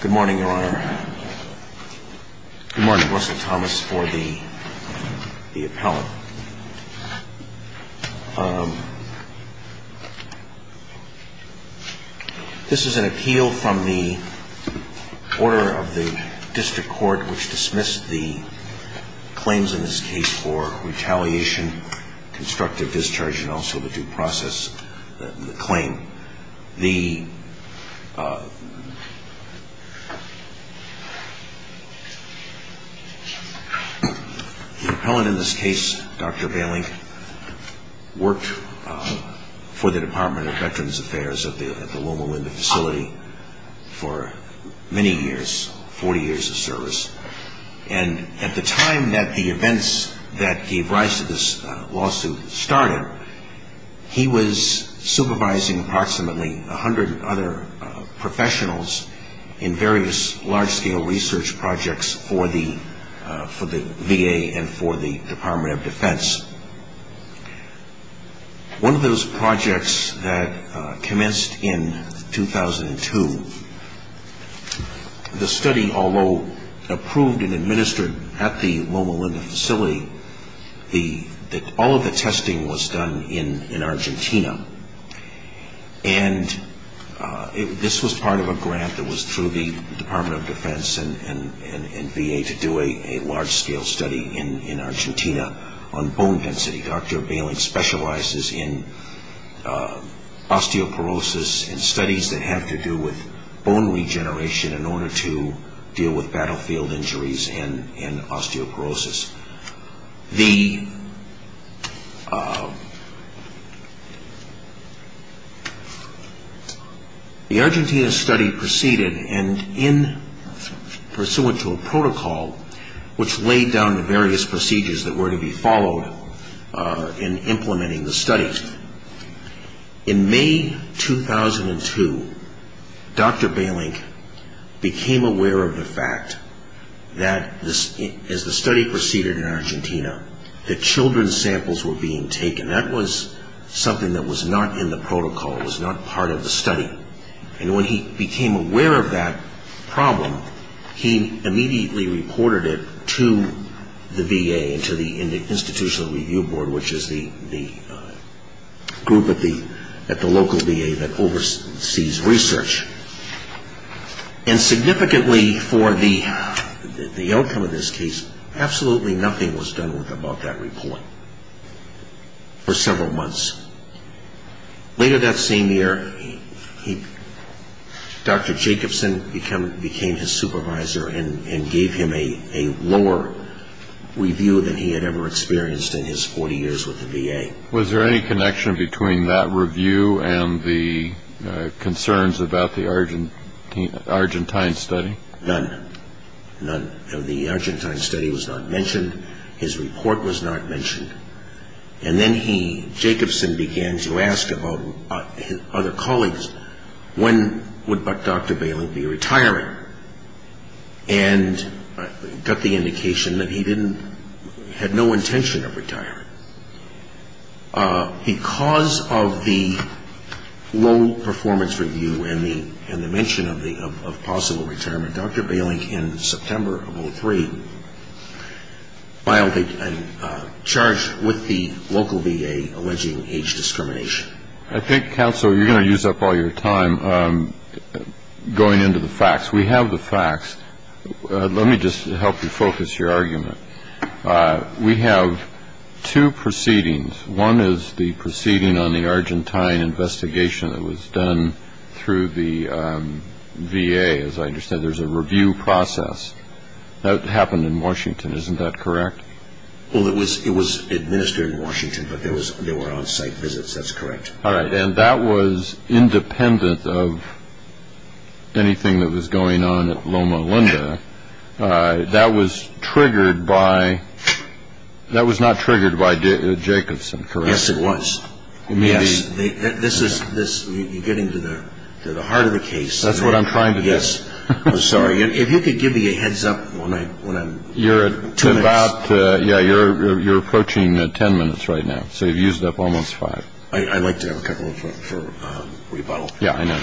Good morning, Your Honor. Good morning, Russell Thomas, for the appellant. This is an appeal from the order of the district court which dismissed the claims in this case for retaliation, constructive discharge, and also the due process claim. The appellant in this case, Dr. Bailink, worked for the Department of Veterans Affairs at the Wilma Linda facility for many years, 40 years of service, and at the time that the events that gave rise to this lawsuit started, he was supervising approximately 100 other professionals in various large-scale research projects for the VA and for the Department of Defense. One of those projects that commenced in 2002, the study, although approved and administered at the Wilma Linda facility, all of the testing was done in Argentina, and this was part of a grant that was through the Department of Defense and VA to do a large-scale study in Argentina on bone marrow. In bone density, Dr. Bailink specializes in osteoporosis and studies that have to do with bone regeneration in order to deal with battlefield injuries and osteoporosis. The Argentina study proceeded, and in pursuant to a protocol which laid down the various procedures that were to be followed in implementing the studies, in May 2002, Dr. Bailink became aware of the fact that as the study proceeded, in Argentina, that children's samples were being taken. That was something that was not in the protocol. It was not part of the study. And when he became aware of that problem, he immediately reported it to the VA and to the Institutional Review Board, which is the group at the local VA that oversees research. And significantly for the outcome of this case, absolutely nothing was done about that report for several months. Later that same year, Dr. Jacobson became his supervisor and gave him a lower review than he had ever experienced in his 40 years with the VA. Was there any connection between that review and the concerns about the Argentine study? None. None. The Argentine study was not mentioned. His report was not mentioned. And then he, Jacobson, began to ask about his other colleagues, when would Dr. Bailink be retiring? And got the indication that he didn't, had no intention of retiring. Because of the low performance review and the mention of possible retirement, Dr. Bailink, in September of 2003, filed a charge with the local VA alleging age discrimination. I think, counsel, you're going to use up all your time going into the facts. We have the facts. Let me just help you focus your argument. We have two proceedings. One is the proceeding on the Argentine investigation that was done through the VA. As I understand, there's a review process that happened in Washington. Isn't that correct? Well, it was administered in Washington, but there were on-site visits. That's correct. All right. And that was independent of anything that was going on at Loma Linda. That was not triggered by Jacobson, correct? Yes, it was. You're getting to the heart of the case. That's what I'm trying to do. Yes. I'm sorry. If you could give me a heads up. You're approaching ten minutes right now, so you've used up almost five. I'd like to have a couple for rebuttal. Yes, I know.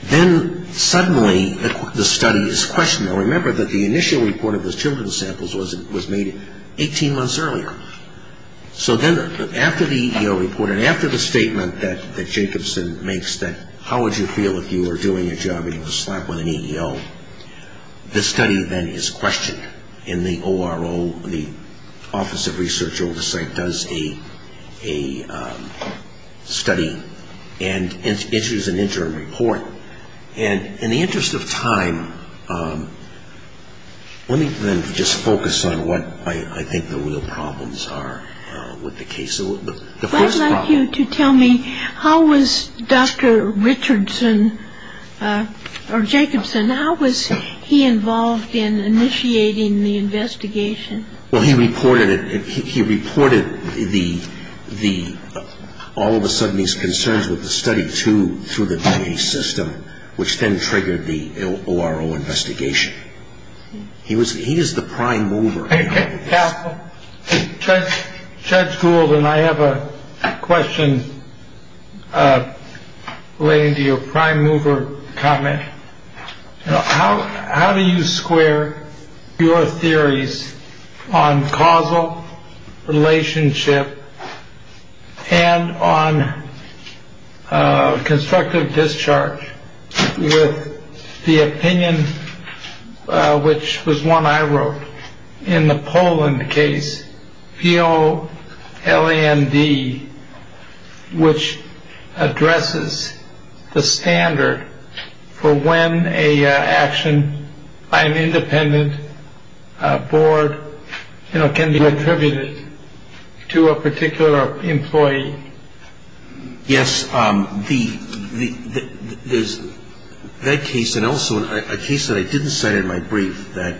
Then, suddenly, the study is questioned. Now, remember that the initial report of the children's samples was made 18 months earlier. So then, after the EEO report, and after the statement that Jacobson makes that how would you feel if you were doing a job, you were slapped with an EEO, the study then is questioned. And the ORO, the Office of Research Oversight, does a study and issues an interim report. And in the interest of time, let me then just focus on what I think the real problems are with the case. I'd like you to tell me how was Dr. Jacobson, how was he involved in initiating the investigation? Well, he reported all of a sudden his concerns with the study to the DA system, which then triggered the ORO investigation. He is the prime mover. Yeah. Judge Gould and I have a question relating to your prime mover comment. How do you square your theories on causal relationship and on constructive discharge with the opinion, which was one I wrote in the Poland case, P.O.L.A.N.D., which addresses the standard for when a action by an independent board can be attributed to a particular employee? Yes. There's that case and also a case that I didn't cite in my brief that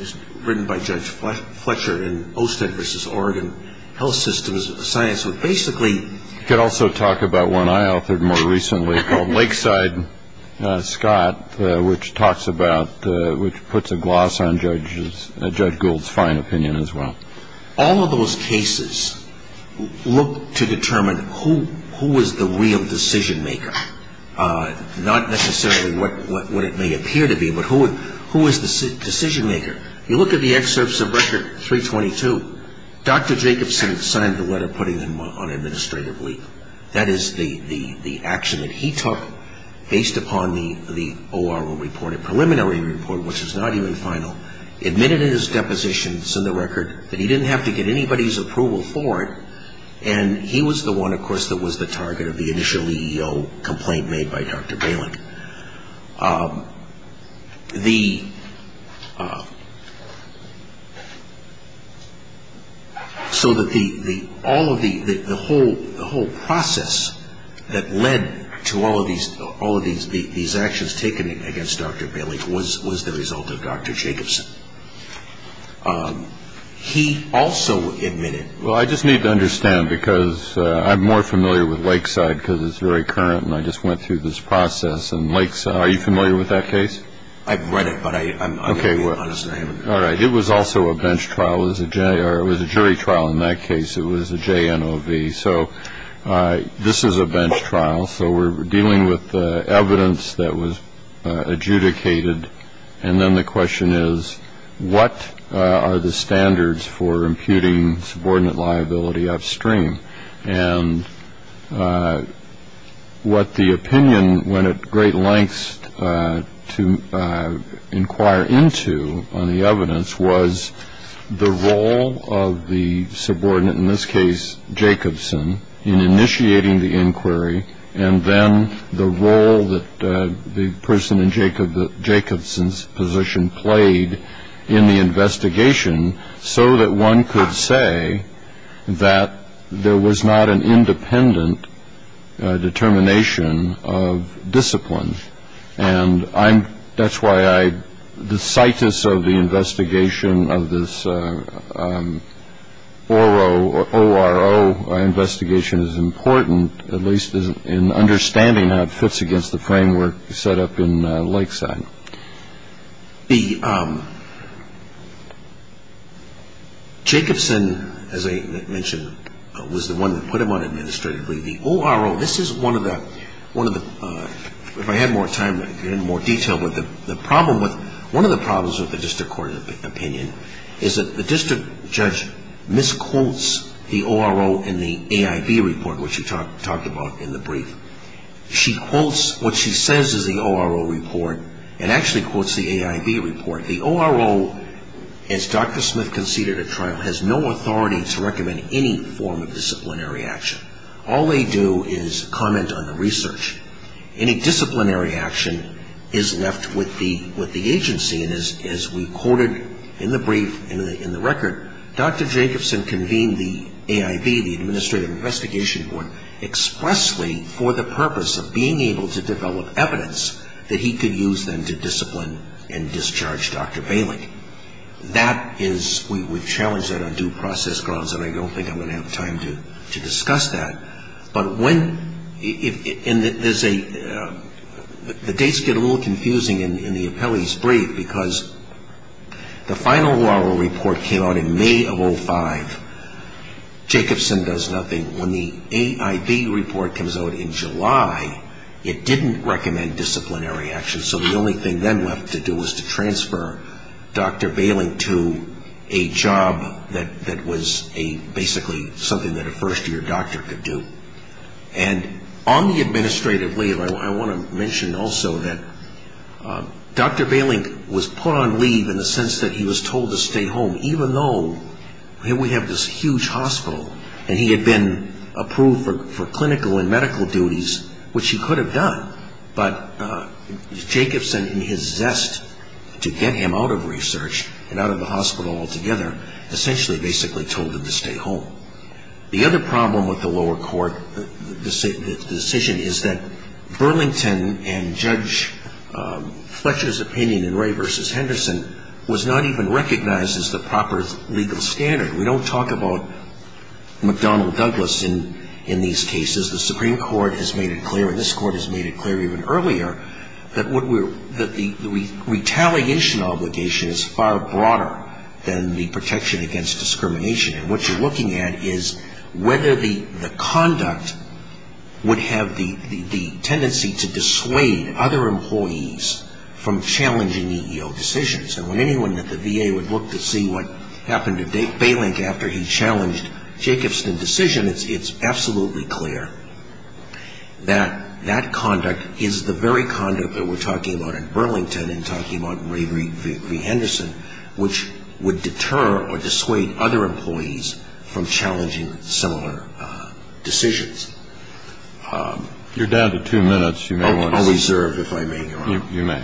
is written by Judge Fletcher in OSTED v. Oregon Health Systems Science, which basically You could also talk about one I authored more recently called Lakeside Scott, which talks about, which puts a gloss on Judge Gould's fine opinion as well. All of those cases look to determine who was the real decision maker, not necessarily what it may appear to be, but who was the decision maker. You look at the excerpts of Record 322, Dr. Jacobson signed the letter putting them on administrative leave. That is the action that he took based upon the ORO report, a preliminary report, which is not even final, admitted in his deposition, it's in the record, that he didn't have to get anybody's approval for it, and he was the one, of course, that was the target of the initial EEO complaint made by Dr. Bailin. So that the whole process that led to all of these actions taken against Dr. Bailin was the result of Dr. Jacobson. He also admitted Well, I just need to understand, because I'm more familiar with Lakeside, because it's very current, and I just went through this process. And Lakeside, are you familiar with that case? I've read it, but I'm not going to be honest. All right. It was also a bench trial. It was a jury trial in that case. It was a JNOV. So this is a bench trial, so we're dealing with evidence that was adjudicated. And then the question is, what are the standards for imputing subordinate liability upstream? And what the opinion went at great lengths to inquire into on the evidence was the role of the subordinate, in this case, Jacobson, in initiating the inquiry, and then the role that the person in Jacobson's position played in the investigation, so that one could say that there was not an independent determination of discipline. And that's why the citus of the investigation of this ORO investigation is important, at least in understanding how it fits against the framework set up in Lakeside. Jacobson, as I mentioned, was the one that put him on administrative leave. The ORO, this is one of the, if I had more time, more detail, but one of the problems with the district court opinion is that the district judge misquotes the ORO in the AIV report, which we talked about in the brief. She quotes what she says is the ORO report and actually quotes the AIV report. The ORO, as Dr. Smith conceded at trial, has no authority to recommend any form of disciplinary action. All they do is comment on the research. Any disciplinary action is left with the agency. And as we quoted in the brief, in the record, Dr. Jacobson convened the AIV, the Administrative Investigation Board, expressly for the purpose of being able to develop evidence that he could use then to discipline and discharge Dr. Bailey. That is, we would challenge that on due process grounds, and I don't think I'm going to have time to discuss that. But when, and there's a, the dates get a little confusing in the appellee's brief, because the final ORO report came out in May of 05. Jacobson does nothing. When the AIV report comes out in July, it didn't recommend disciplinary action. So the only thing then left to do was to transfer Dr. Bailey to a job that was a, basically something that a first-year doctor could do. And on the administrative leave, I want to mention also that Dr. Bailey was put on leave in the sense that he was told to stay home, even though here we have this huge hospital, and he had been approved for clinical and medical duties, which he could have done. But Jacobson, in his zest to get him out of research and out of the hospital altogether, essentially basically told him to stay home. The other problem with the lower court decision is that Burlington and Judge Fletcher's opinion in Ray v. Henderson was not even recognized as the proper legal standard. We don't talk about McDonnell Douglas in these cases. The Supreme Court has made it clear, and this Court has made it clear even earlier, that the retaliation obligation is far broader than the protection against discrimination. And what you're looking at is whether the conduct would have the tendency to dissuade other employees from challenging EEO decisions. And when anyone at the VA would look to see what happened to Baylink after he challenged Jacobson's decision, it's absolutely clear that that conduct is the very conduct that we're talking about in Burlington and talking about in Ray v. Henderson, which would deter or dissuade other employees from challenging similar decisions. You're down to two minutes. You may want to start. I'll reserve if I may, Your Honor. You may.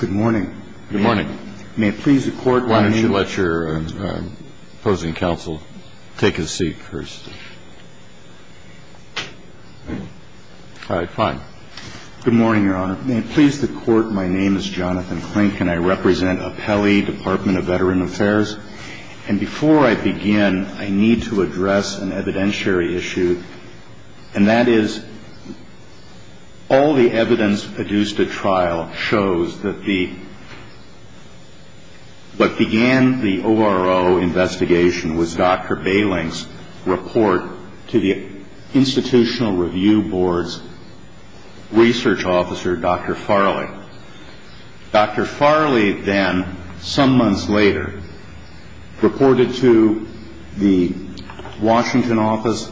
Good morning. Good morning. May it please the Court, why don't you let your opposing counsel take a seat first. All right, fine. Good morning, Your Honor. May it please the Court, my name is Jonathan Klink. And I represent Apelli Department of Veteran Affairs. And before I begin, I need to address an evidentiary issue, and that is all the evidence produced at trial shows that what began the ORO investigation was Dr. Baylink's report to the Institutional Review Board's research officer, Dr. Farley. Dr. Farley then, some months later, reported to the Washington office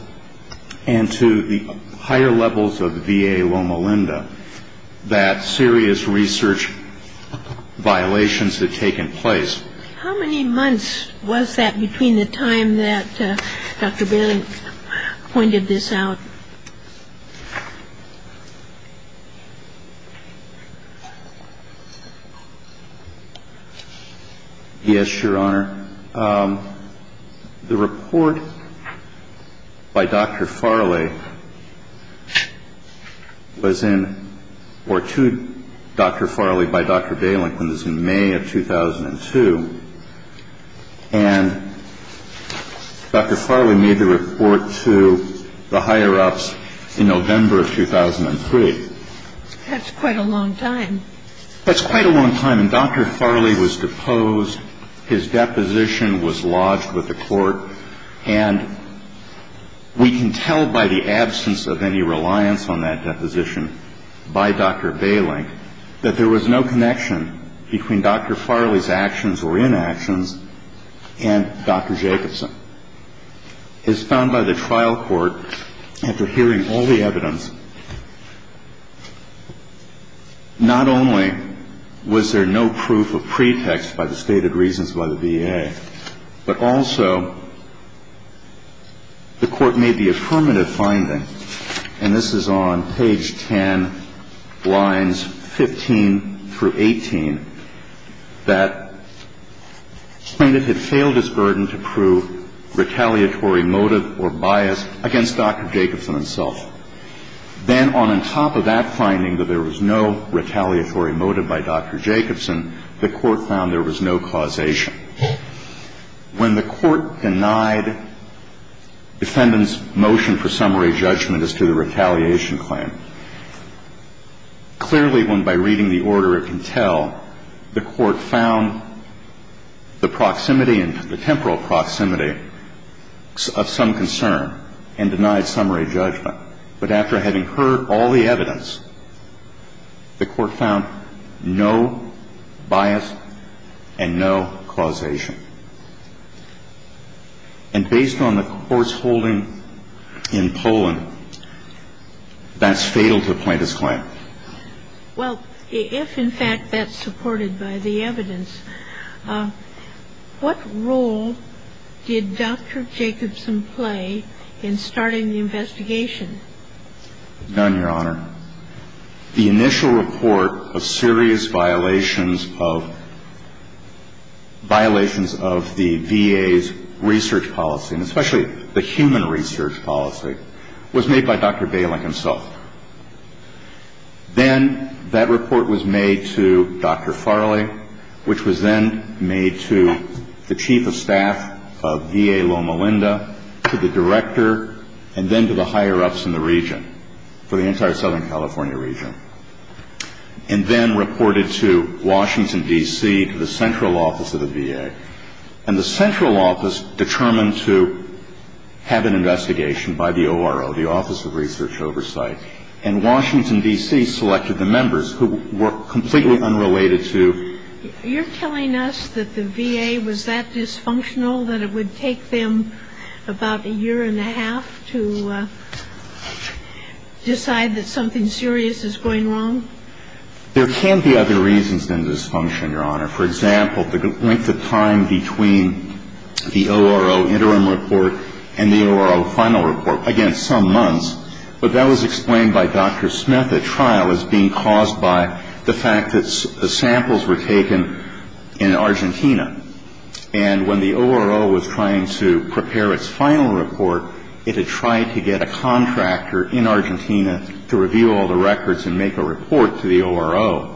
and to the higher levels of VA Loma Linda that serious research violations had taken place. How many months was that between the time that Dr. Baylink pointed this out? Yes, Your Honor. Your Honor, the report by Dr. Farley was in or to Dr. Farley by Dr. Baylink was in May of 2002. And Dr. Farley made the report to the higher ups in November of 2003. That's quite a long time. That's quite a long time. And Dr. Farley was deposed. His deposition was lodged with the court. And we can tell by the absence of any reliance on that deposition by Dr. Baylink that there was no connection between Dr. Farley's actions or inactions and Dr. Jacobson. And Dr. Jacobson is found by the trial court after hearing all the evidence. Not only was there no proof of pretext by the stated reasons by the VA, but also the court made the affirmative finding, and this is on page 10, lines 15 through 18, that plaintiff had failed his burden to prove retaliatory motive or bias against Dr. Jacobson himself. Then on top of that finding that there was no retaliatory motive by Dr. Jacobson, the court found there was no causation. When the court denied defendant's motion for summary judgment as to the retaliation claim, clearly when by reading the order it can tell, the court found the proximity and the temporal proximity of some concern and denied summary judgment. But after having heard all the evidence, the court found no bias and no causation. And based on the court's holding in Poland, that's fatal to a plaintiff's claim. Well, if in fact that's supported by the evidence, what role did Dr. Jacobson play in starting the investigation? None, Your Honor. The initial report of serious violations of the VA's research policy, and especially the human research policy, was made by Dr. Bailing himself. Then that report was made to Dr. Farley, which was then made to the chief of staff of VA Loma Linda, to the director, and then to the higher-ups in the region, for the entire Southern California region. And then reported to Washington, D.C., to the central office of the VA. And the central office determined to have an investigation by the ORO, the Office of Research Oversight. And Washington, D.C., selected the members who were completely unrelated to the VA. You're telling us that the VA was that dysfunctional, that it would take them about a year and a half to decide that something serious is going wrong? There can be other reasons than dysfunction, Your Honor. For example, the length of time between the ORO interim report and the ORO final report. Again, some months. But that was explained by Dr. Smith at trial as being caused by the fact that samples were taken in Argentina. And when the ORO was trying to prepare its final report, it had tried to get a contractor in Argentina to review all the records and make a report to the ORO.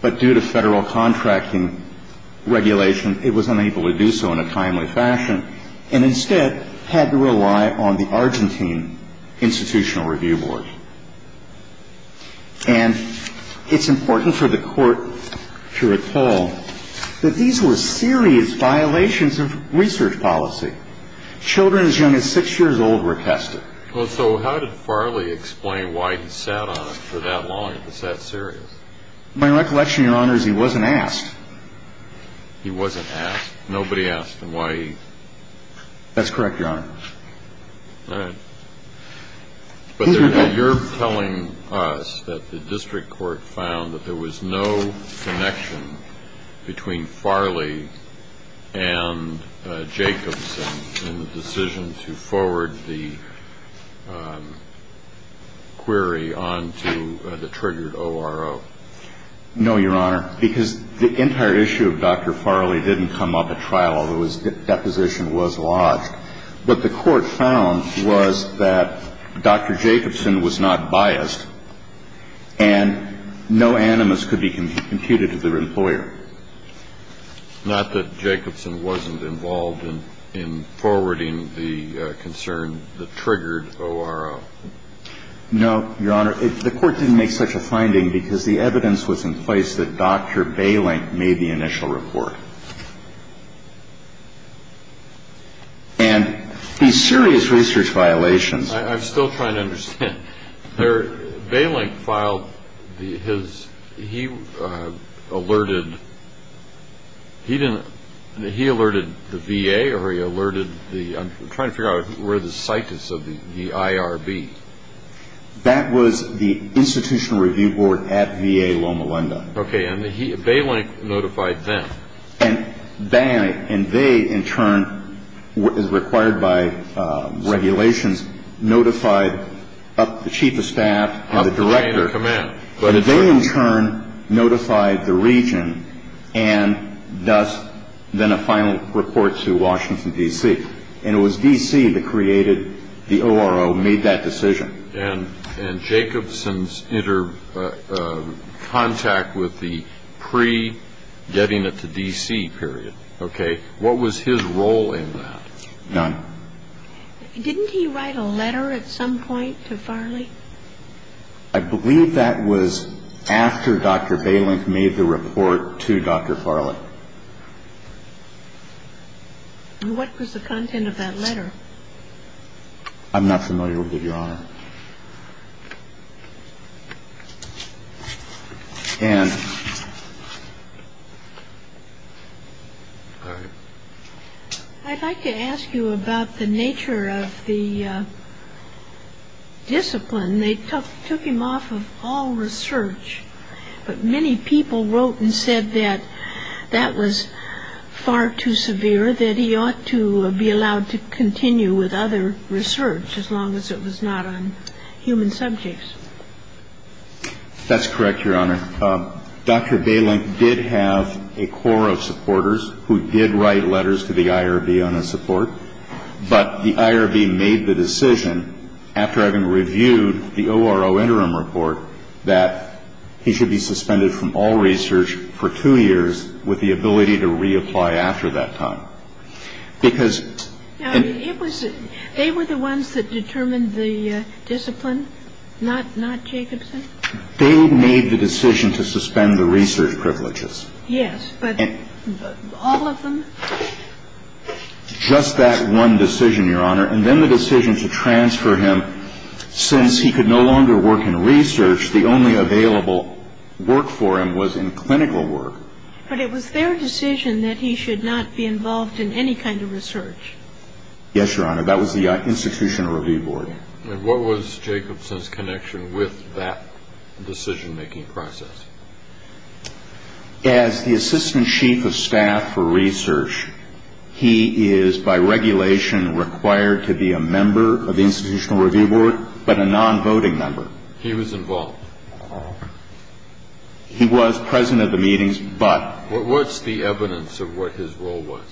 But due to Federal contracting regulation, it was unable to do so in a timely fashion and instead had to rely on the Argentine Institutional Review Board. And it's important for the Court to recall that these were serious violations of research policy. Children as young as six years old were tested. Well, so how did Farley explain why he sat on it for that long? Is that serious? My recollection, Your Honor, is he wasn't asked. He wasn't asked? Nobody asked him why he... That's correct, Your Honor. All right. But you're telling us that the district court found that there was no connection between Farley and Jacobson in the decision to forward the query on to the triggered ORO. No, Your Honor, because the entire issue of Dr. Farley didn't come up at trial, although his deposition was lodged. What the Court found was that Dr. Jacobson was not biased and no animus could be computed to the employer. Not that Jacobson wasn't involved in forwarding the concern, the triggered ORO. No, Your Honor. The Court didn't make such a finding because the evidence was in place that Dr. Bailink made the initial report. And these serious research violations... I'm still trying to understand. Bailink filed his... He alerted... He alerted the VA or he alerted the... I'm trying to figure out where the site is of the IRB. That was the Institutional Review Board at VA Loma Linda. Okay, and Bailink notified them. And they, in turn, as required by regulations, notified the chief of staff and the director. But they, in turn, notified the region and thus then a final report to Washington, D.C. And it was D.C. that created the ORO, made that decision. And Jacobson's contact with the pre-getting it to D.C. period, okay, what was his role in that? None. Didn't he write a letter at some point to Farley? I believe that was after Dr. Bailink made the report to Dr. Farley. And what was the content of that letter? I'm not familiar with it, Your Honor. Ann. I'd like to ask you about the nature of the discipline. They took him off of all research. But many people wrote and said that that was far too severe, that he ought to be allowed to continue with other research as long as it was not on human subjects. That's correct, Your Honor. Dr. Bailink did have a core of supporters who did write letters to the IRB on his support. But the IRB made the decision, after having reviewed the ORO interim report, that he should be suspended from all research for two years with the ability to reapply after that time. Because... They were the ones that determined the discipline, not Jacobson? They made the decision to suspend the research privileges. Yes, but all of them? Just that one decision, Your Honor. And then the decision to transfer him, since he could no longer work in research, the only available work for him was in clinical work. But it was their decision that he should not be involved in any kind of research. Yes, Your Honor. That was the Institutional Review Board. And what was Jacobson's connection with that decision-making process? As the assistant chief of staff for research, he is by regulation required to be a member of the Institutional Review Board, but a non-voting member. He was involved. He was present at the meetings, but... What's the evidence of what his role was?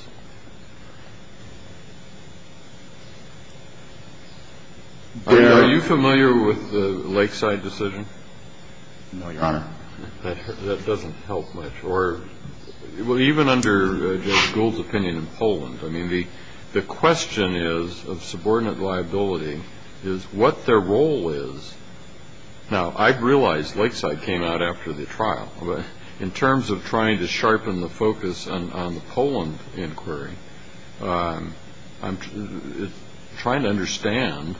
Are you familiar with the Lakeside decision? No, Your Honor. That doesn't help much. Even under Judge Gould's opinion in Poland, the question of subordinate liability is what their role is. Now, I realize Lakeside came out after the trial, but in terms of trying to sharpen the focus on the Poland inquiry, I'm trying to understand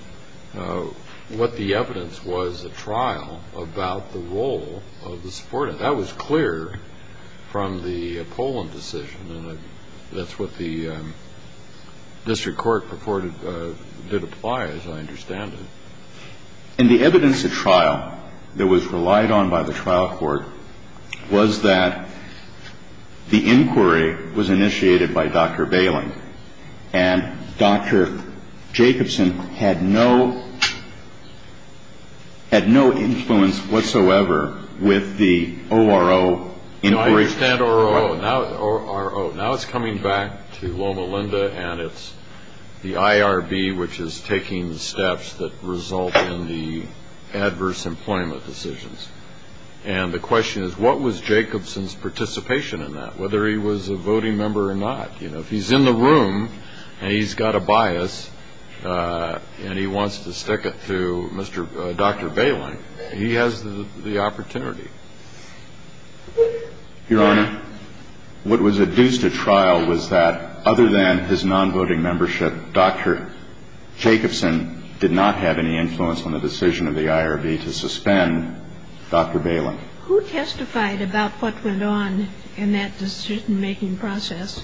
what the evidence was at trial about the role of the subordinate. That was clear from the Poland decision, and that's what the district court purported did apply, as I understand it. And the evidence at trial that was relied on by the trial court was that the inquiry was initiated by Dr. Bailing, and Dr. Jacobson had no influence whatsoever with the ORO inquiry. No, I understand ORO. Now it's coming back to Loma Linda, and it's the IRB, which is taking steps that result in the adverse employment decisions. And the question is, what was Jacobson's participation in that, whether he was a voting member or not? If he's in the room and he's got a bias and he wants to stick it to Dr. Bailing, he has the opportunity. Your Honor, what was adduced at trial was that, other than his non-voting membership, Dr. Jacobson did not have any influence on the decision of the IRB to suspend Dr. Bailing. Who testified about what went on in that decision-making process?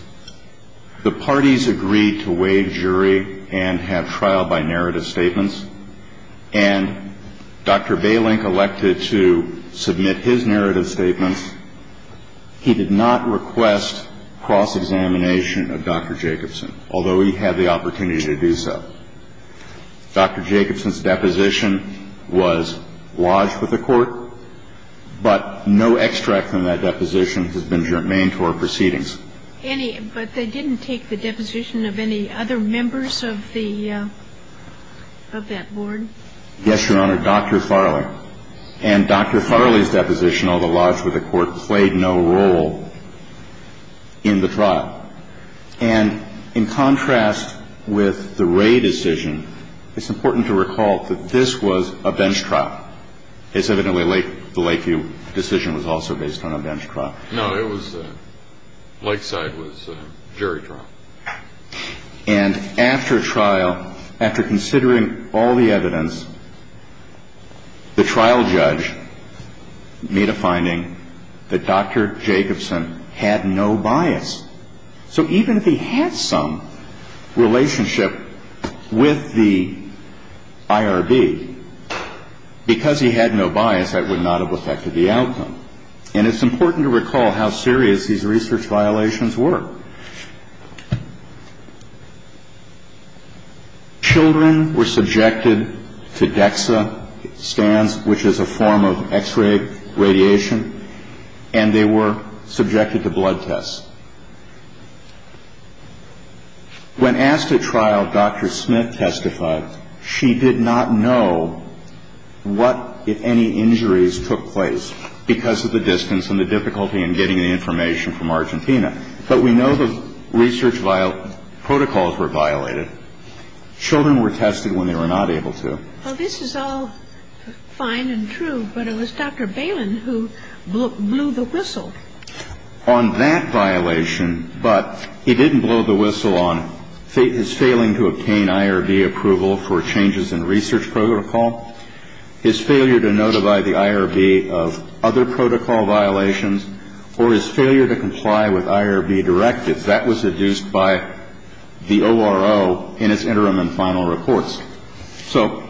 The parties agreed to waive jury and have trial by narrative statements, and Dr. Bailing elected to submit his narrative statements. He did not request cross-examination of Dr. Jacobson, although he had the opportunity to do so. Dr. Jacobson's deposition was lodged with the Court, but no extract from that deposition has been germane to our proceedings. Any, but they didn't take the deposition of any other members of the, of that board? Yes, Your Honor, Dr. Farley. And Dr. Farley's deposition, although lodged with the Court, played no role in the trial. And in contrast with the Wray decision, it's important to recall that this was a bench trial. It's evidently the Lakeview decision was also based on a bench trial. No, it was, Lakeside was a jury trial. And after trial, after considering all the evidence, the trial judge made a finding that Dr. Jacobson had no bias. So even if he had some relationship with the IRB, because he had no bias, that would not have affected the outcome. And it's important to recall how serious these research violations were. Children were subjected to DEXA scans, which is a form of X-ray radiation, and they were subjected to blood tests. When asked at trial, Dr. Smith testified she did not know what, if any, injuries took place because of the distance and the difficulty in getting the information from Argentina. But we know the research protocols were violated. Children were tested when they were not able to. Well, this is all fine and true, but it was Dr. Balin who blew the whistle. On that violation, but he didn't blow the whistle on his failing to obtain IRB approval for changes in research protocol, his failure to notify the IRB of other protocol violations, or his failure to comply with IRB directives. That was adduced by the ORO in its interim and final reports. So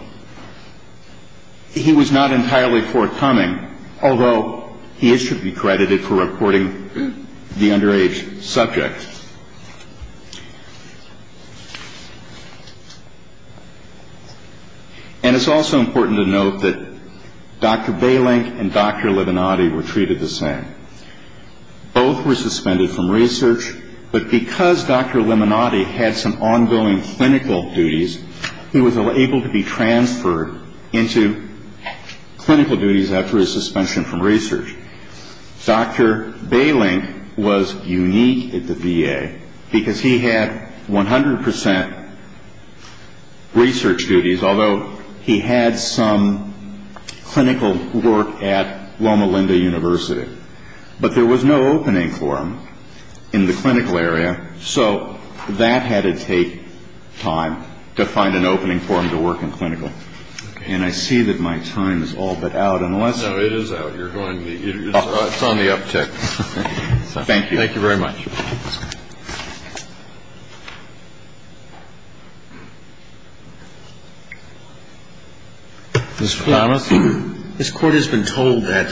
he was not entirely forthcoming, although he is to be credited for reporting the underage subject. And it's also important to note that Dr. Balin and Dr. Limonade were treated the same. Both were suspended from research, but because Dr. Limonade had some ongoing clinical duties, he was able to be transferred into clinical duties after his suspension from research. Dr. Balin was unique at the VA because he had 100 percent research duties, although he had some clinical work at Loma Linda University. But there was no opening for him in the clinical area, so that had to take time to find an opening for him to work in clinical. And I see that my time is all but out. Unless you want to go on. No, it is out. You're going to be here. It's on the uptick. Thank you. Thank you very much. Ms. Flanders? This Court has been told that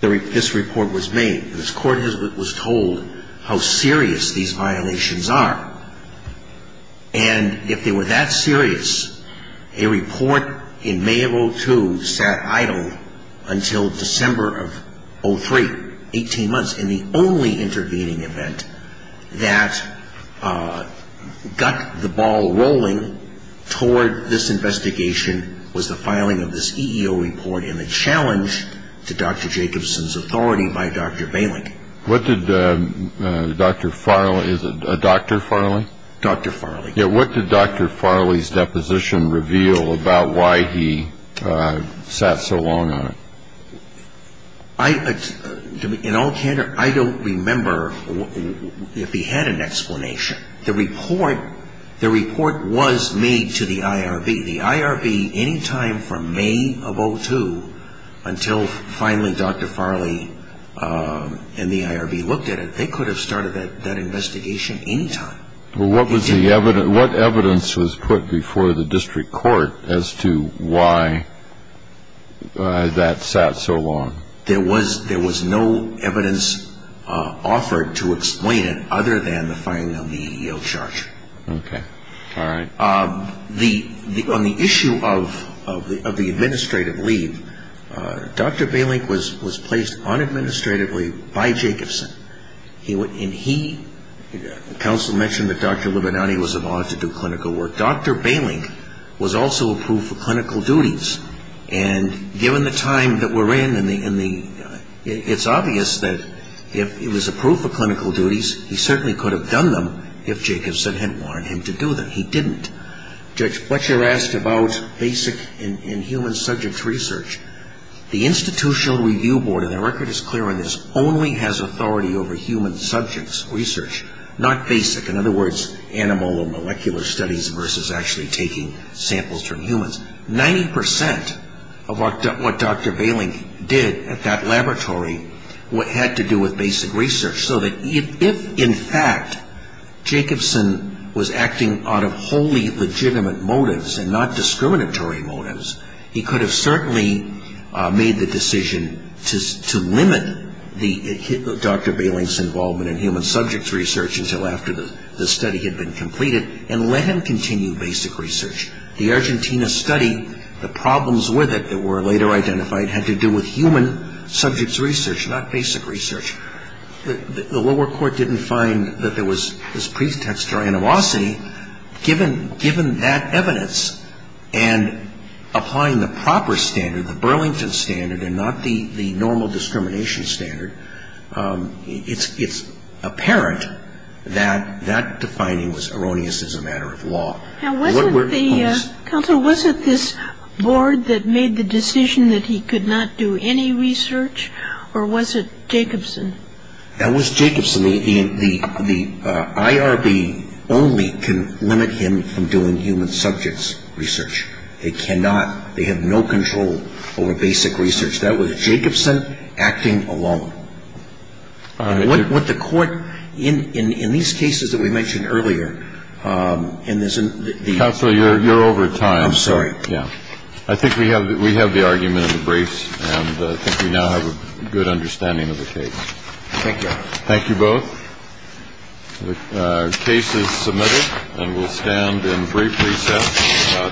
this report was made. This Court was told how serious these violations are. And if they were that serious, a report in May of 2002 sat idle until December of 2003, 18 months. And the only intervening event that got the ball rolling toward this investigation was the filing of this EEO report and the challenge to Dr. Jacobson's authority by Dr. Balin. What did Dr. Farley, is it Dr. Farley? Dr. Farley. Yeah, what did Dr. Farley's deposition reveal about why he sat so long on it? In all candor, I don't remember if he had an explanation. The report was made to the IRB. The IRB, any time from May of 2002 until finally Dr. Farley and the IRB looked at it, they could have started that investigation any time. Well, what evidence was put before the district court as to why that sat so long? There was no evidence offered to explain it other than the filing of the EEO charge. Okay. All right. On the issue of the administrative leave, Dr. Balin was placed unadministratively by Jacobson. And he, counsel mentioned that Dr. Libinanti was allowed to do clinical work. Dr. Balin was also approved for clinical duties. And given the time that we're in, it's obvious that if he was approved for clinical duties, he certainly could have done them if Jacobson had warned him to do them. He didn't. Judge Fletcher asked about basic and human subjects research. The Institutional Review Board, and the record is clear on this, only has authority over human subjects research, not basic. In other words, animal or molecular studies versus actually taking samples from humans. Ninety percent of what Dr. Balin did at that laboratory had to do with basic research. So that if, in fact, Jacobson was acting out of wholly legitimate motives and not discriminatory motives, he could have certainly made the decision to limit Dr. Balin's involvement in human subjects research until after the study had been completed and let him continue basic research. The Argentina study, the problems with it that were later identified had to do with human subjects research, not basic research. The lower court didn't find that there was this pretext or animosity. Given that evidence and applying the proper standard, the Burlington standard, and not the normal discrimination standard, it's apparent that that defining was erroneous as a matter of law. Counsel, was it this board that made the decision that he could not do any research, or was it Jacobson? That was Jacobson. The IRB only can limit him from doing human subjects research. They cannot. They have no control over basic research. That was Jacobson acting alone. What the court, in these cases that we mentioned earlier, and there's a- Counsel, you're over time. I'm sorry. Yeah. I think we have the argument in the briefs, and I think we now have a good understanding of the case. Thank you. Thank you both. The case is submitted, and we'll stand in brief recess for about ten minutes. All rise.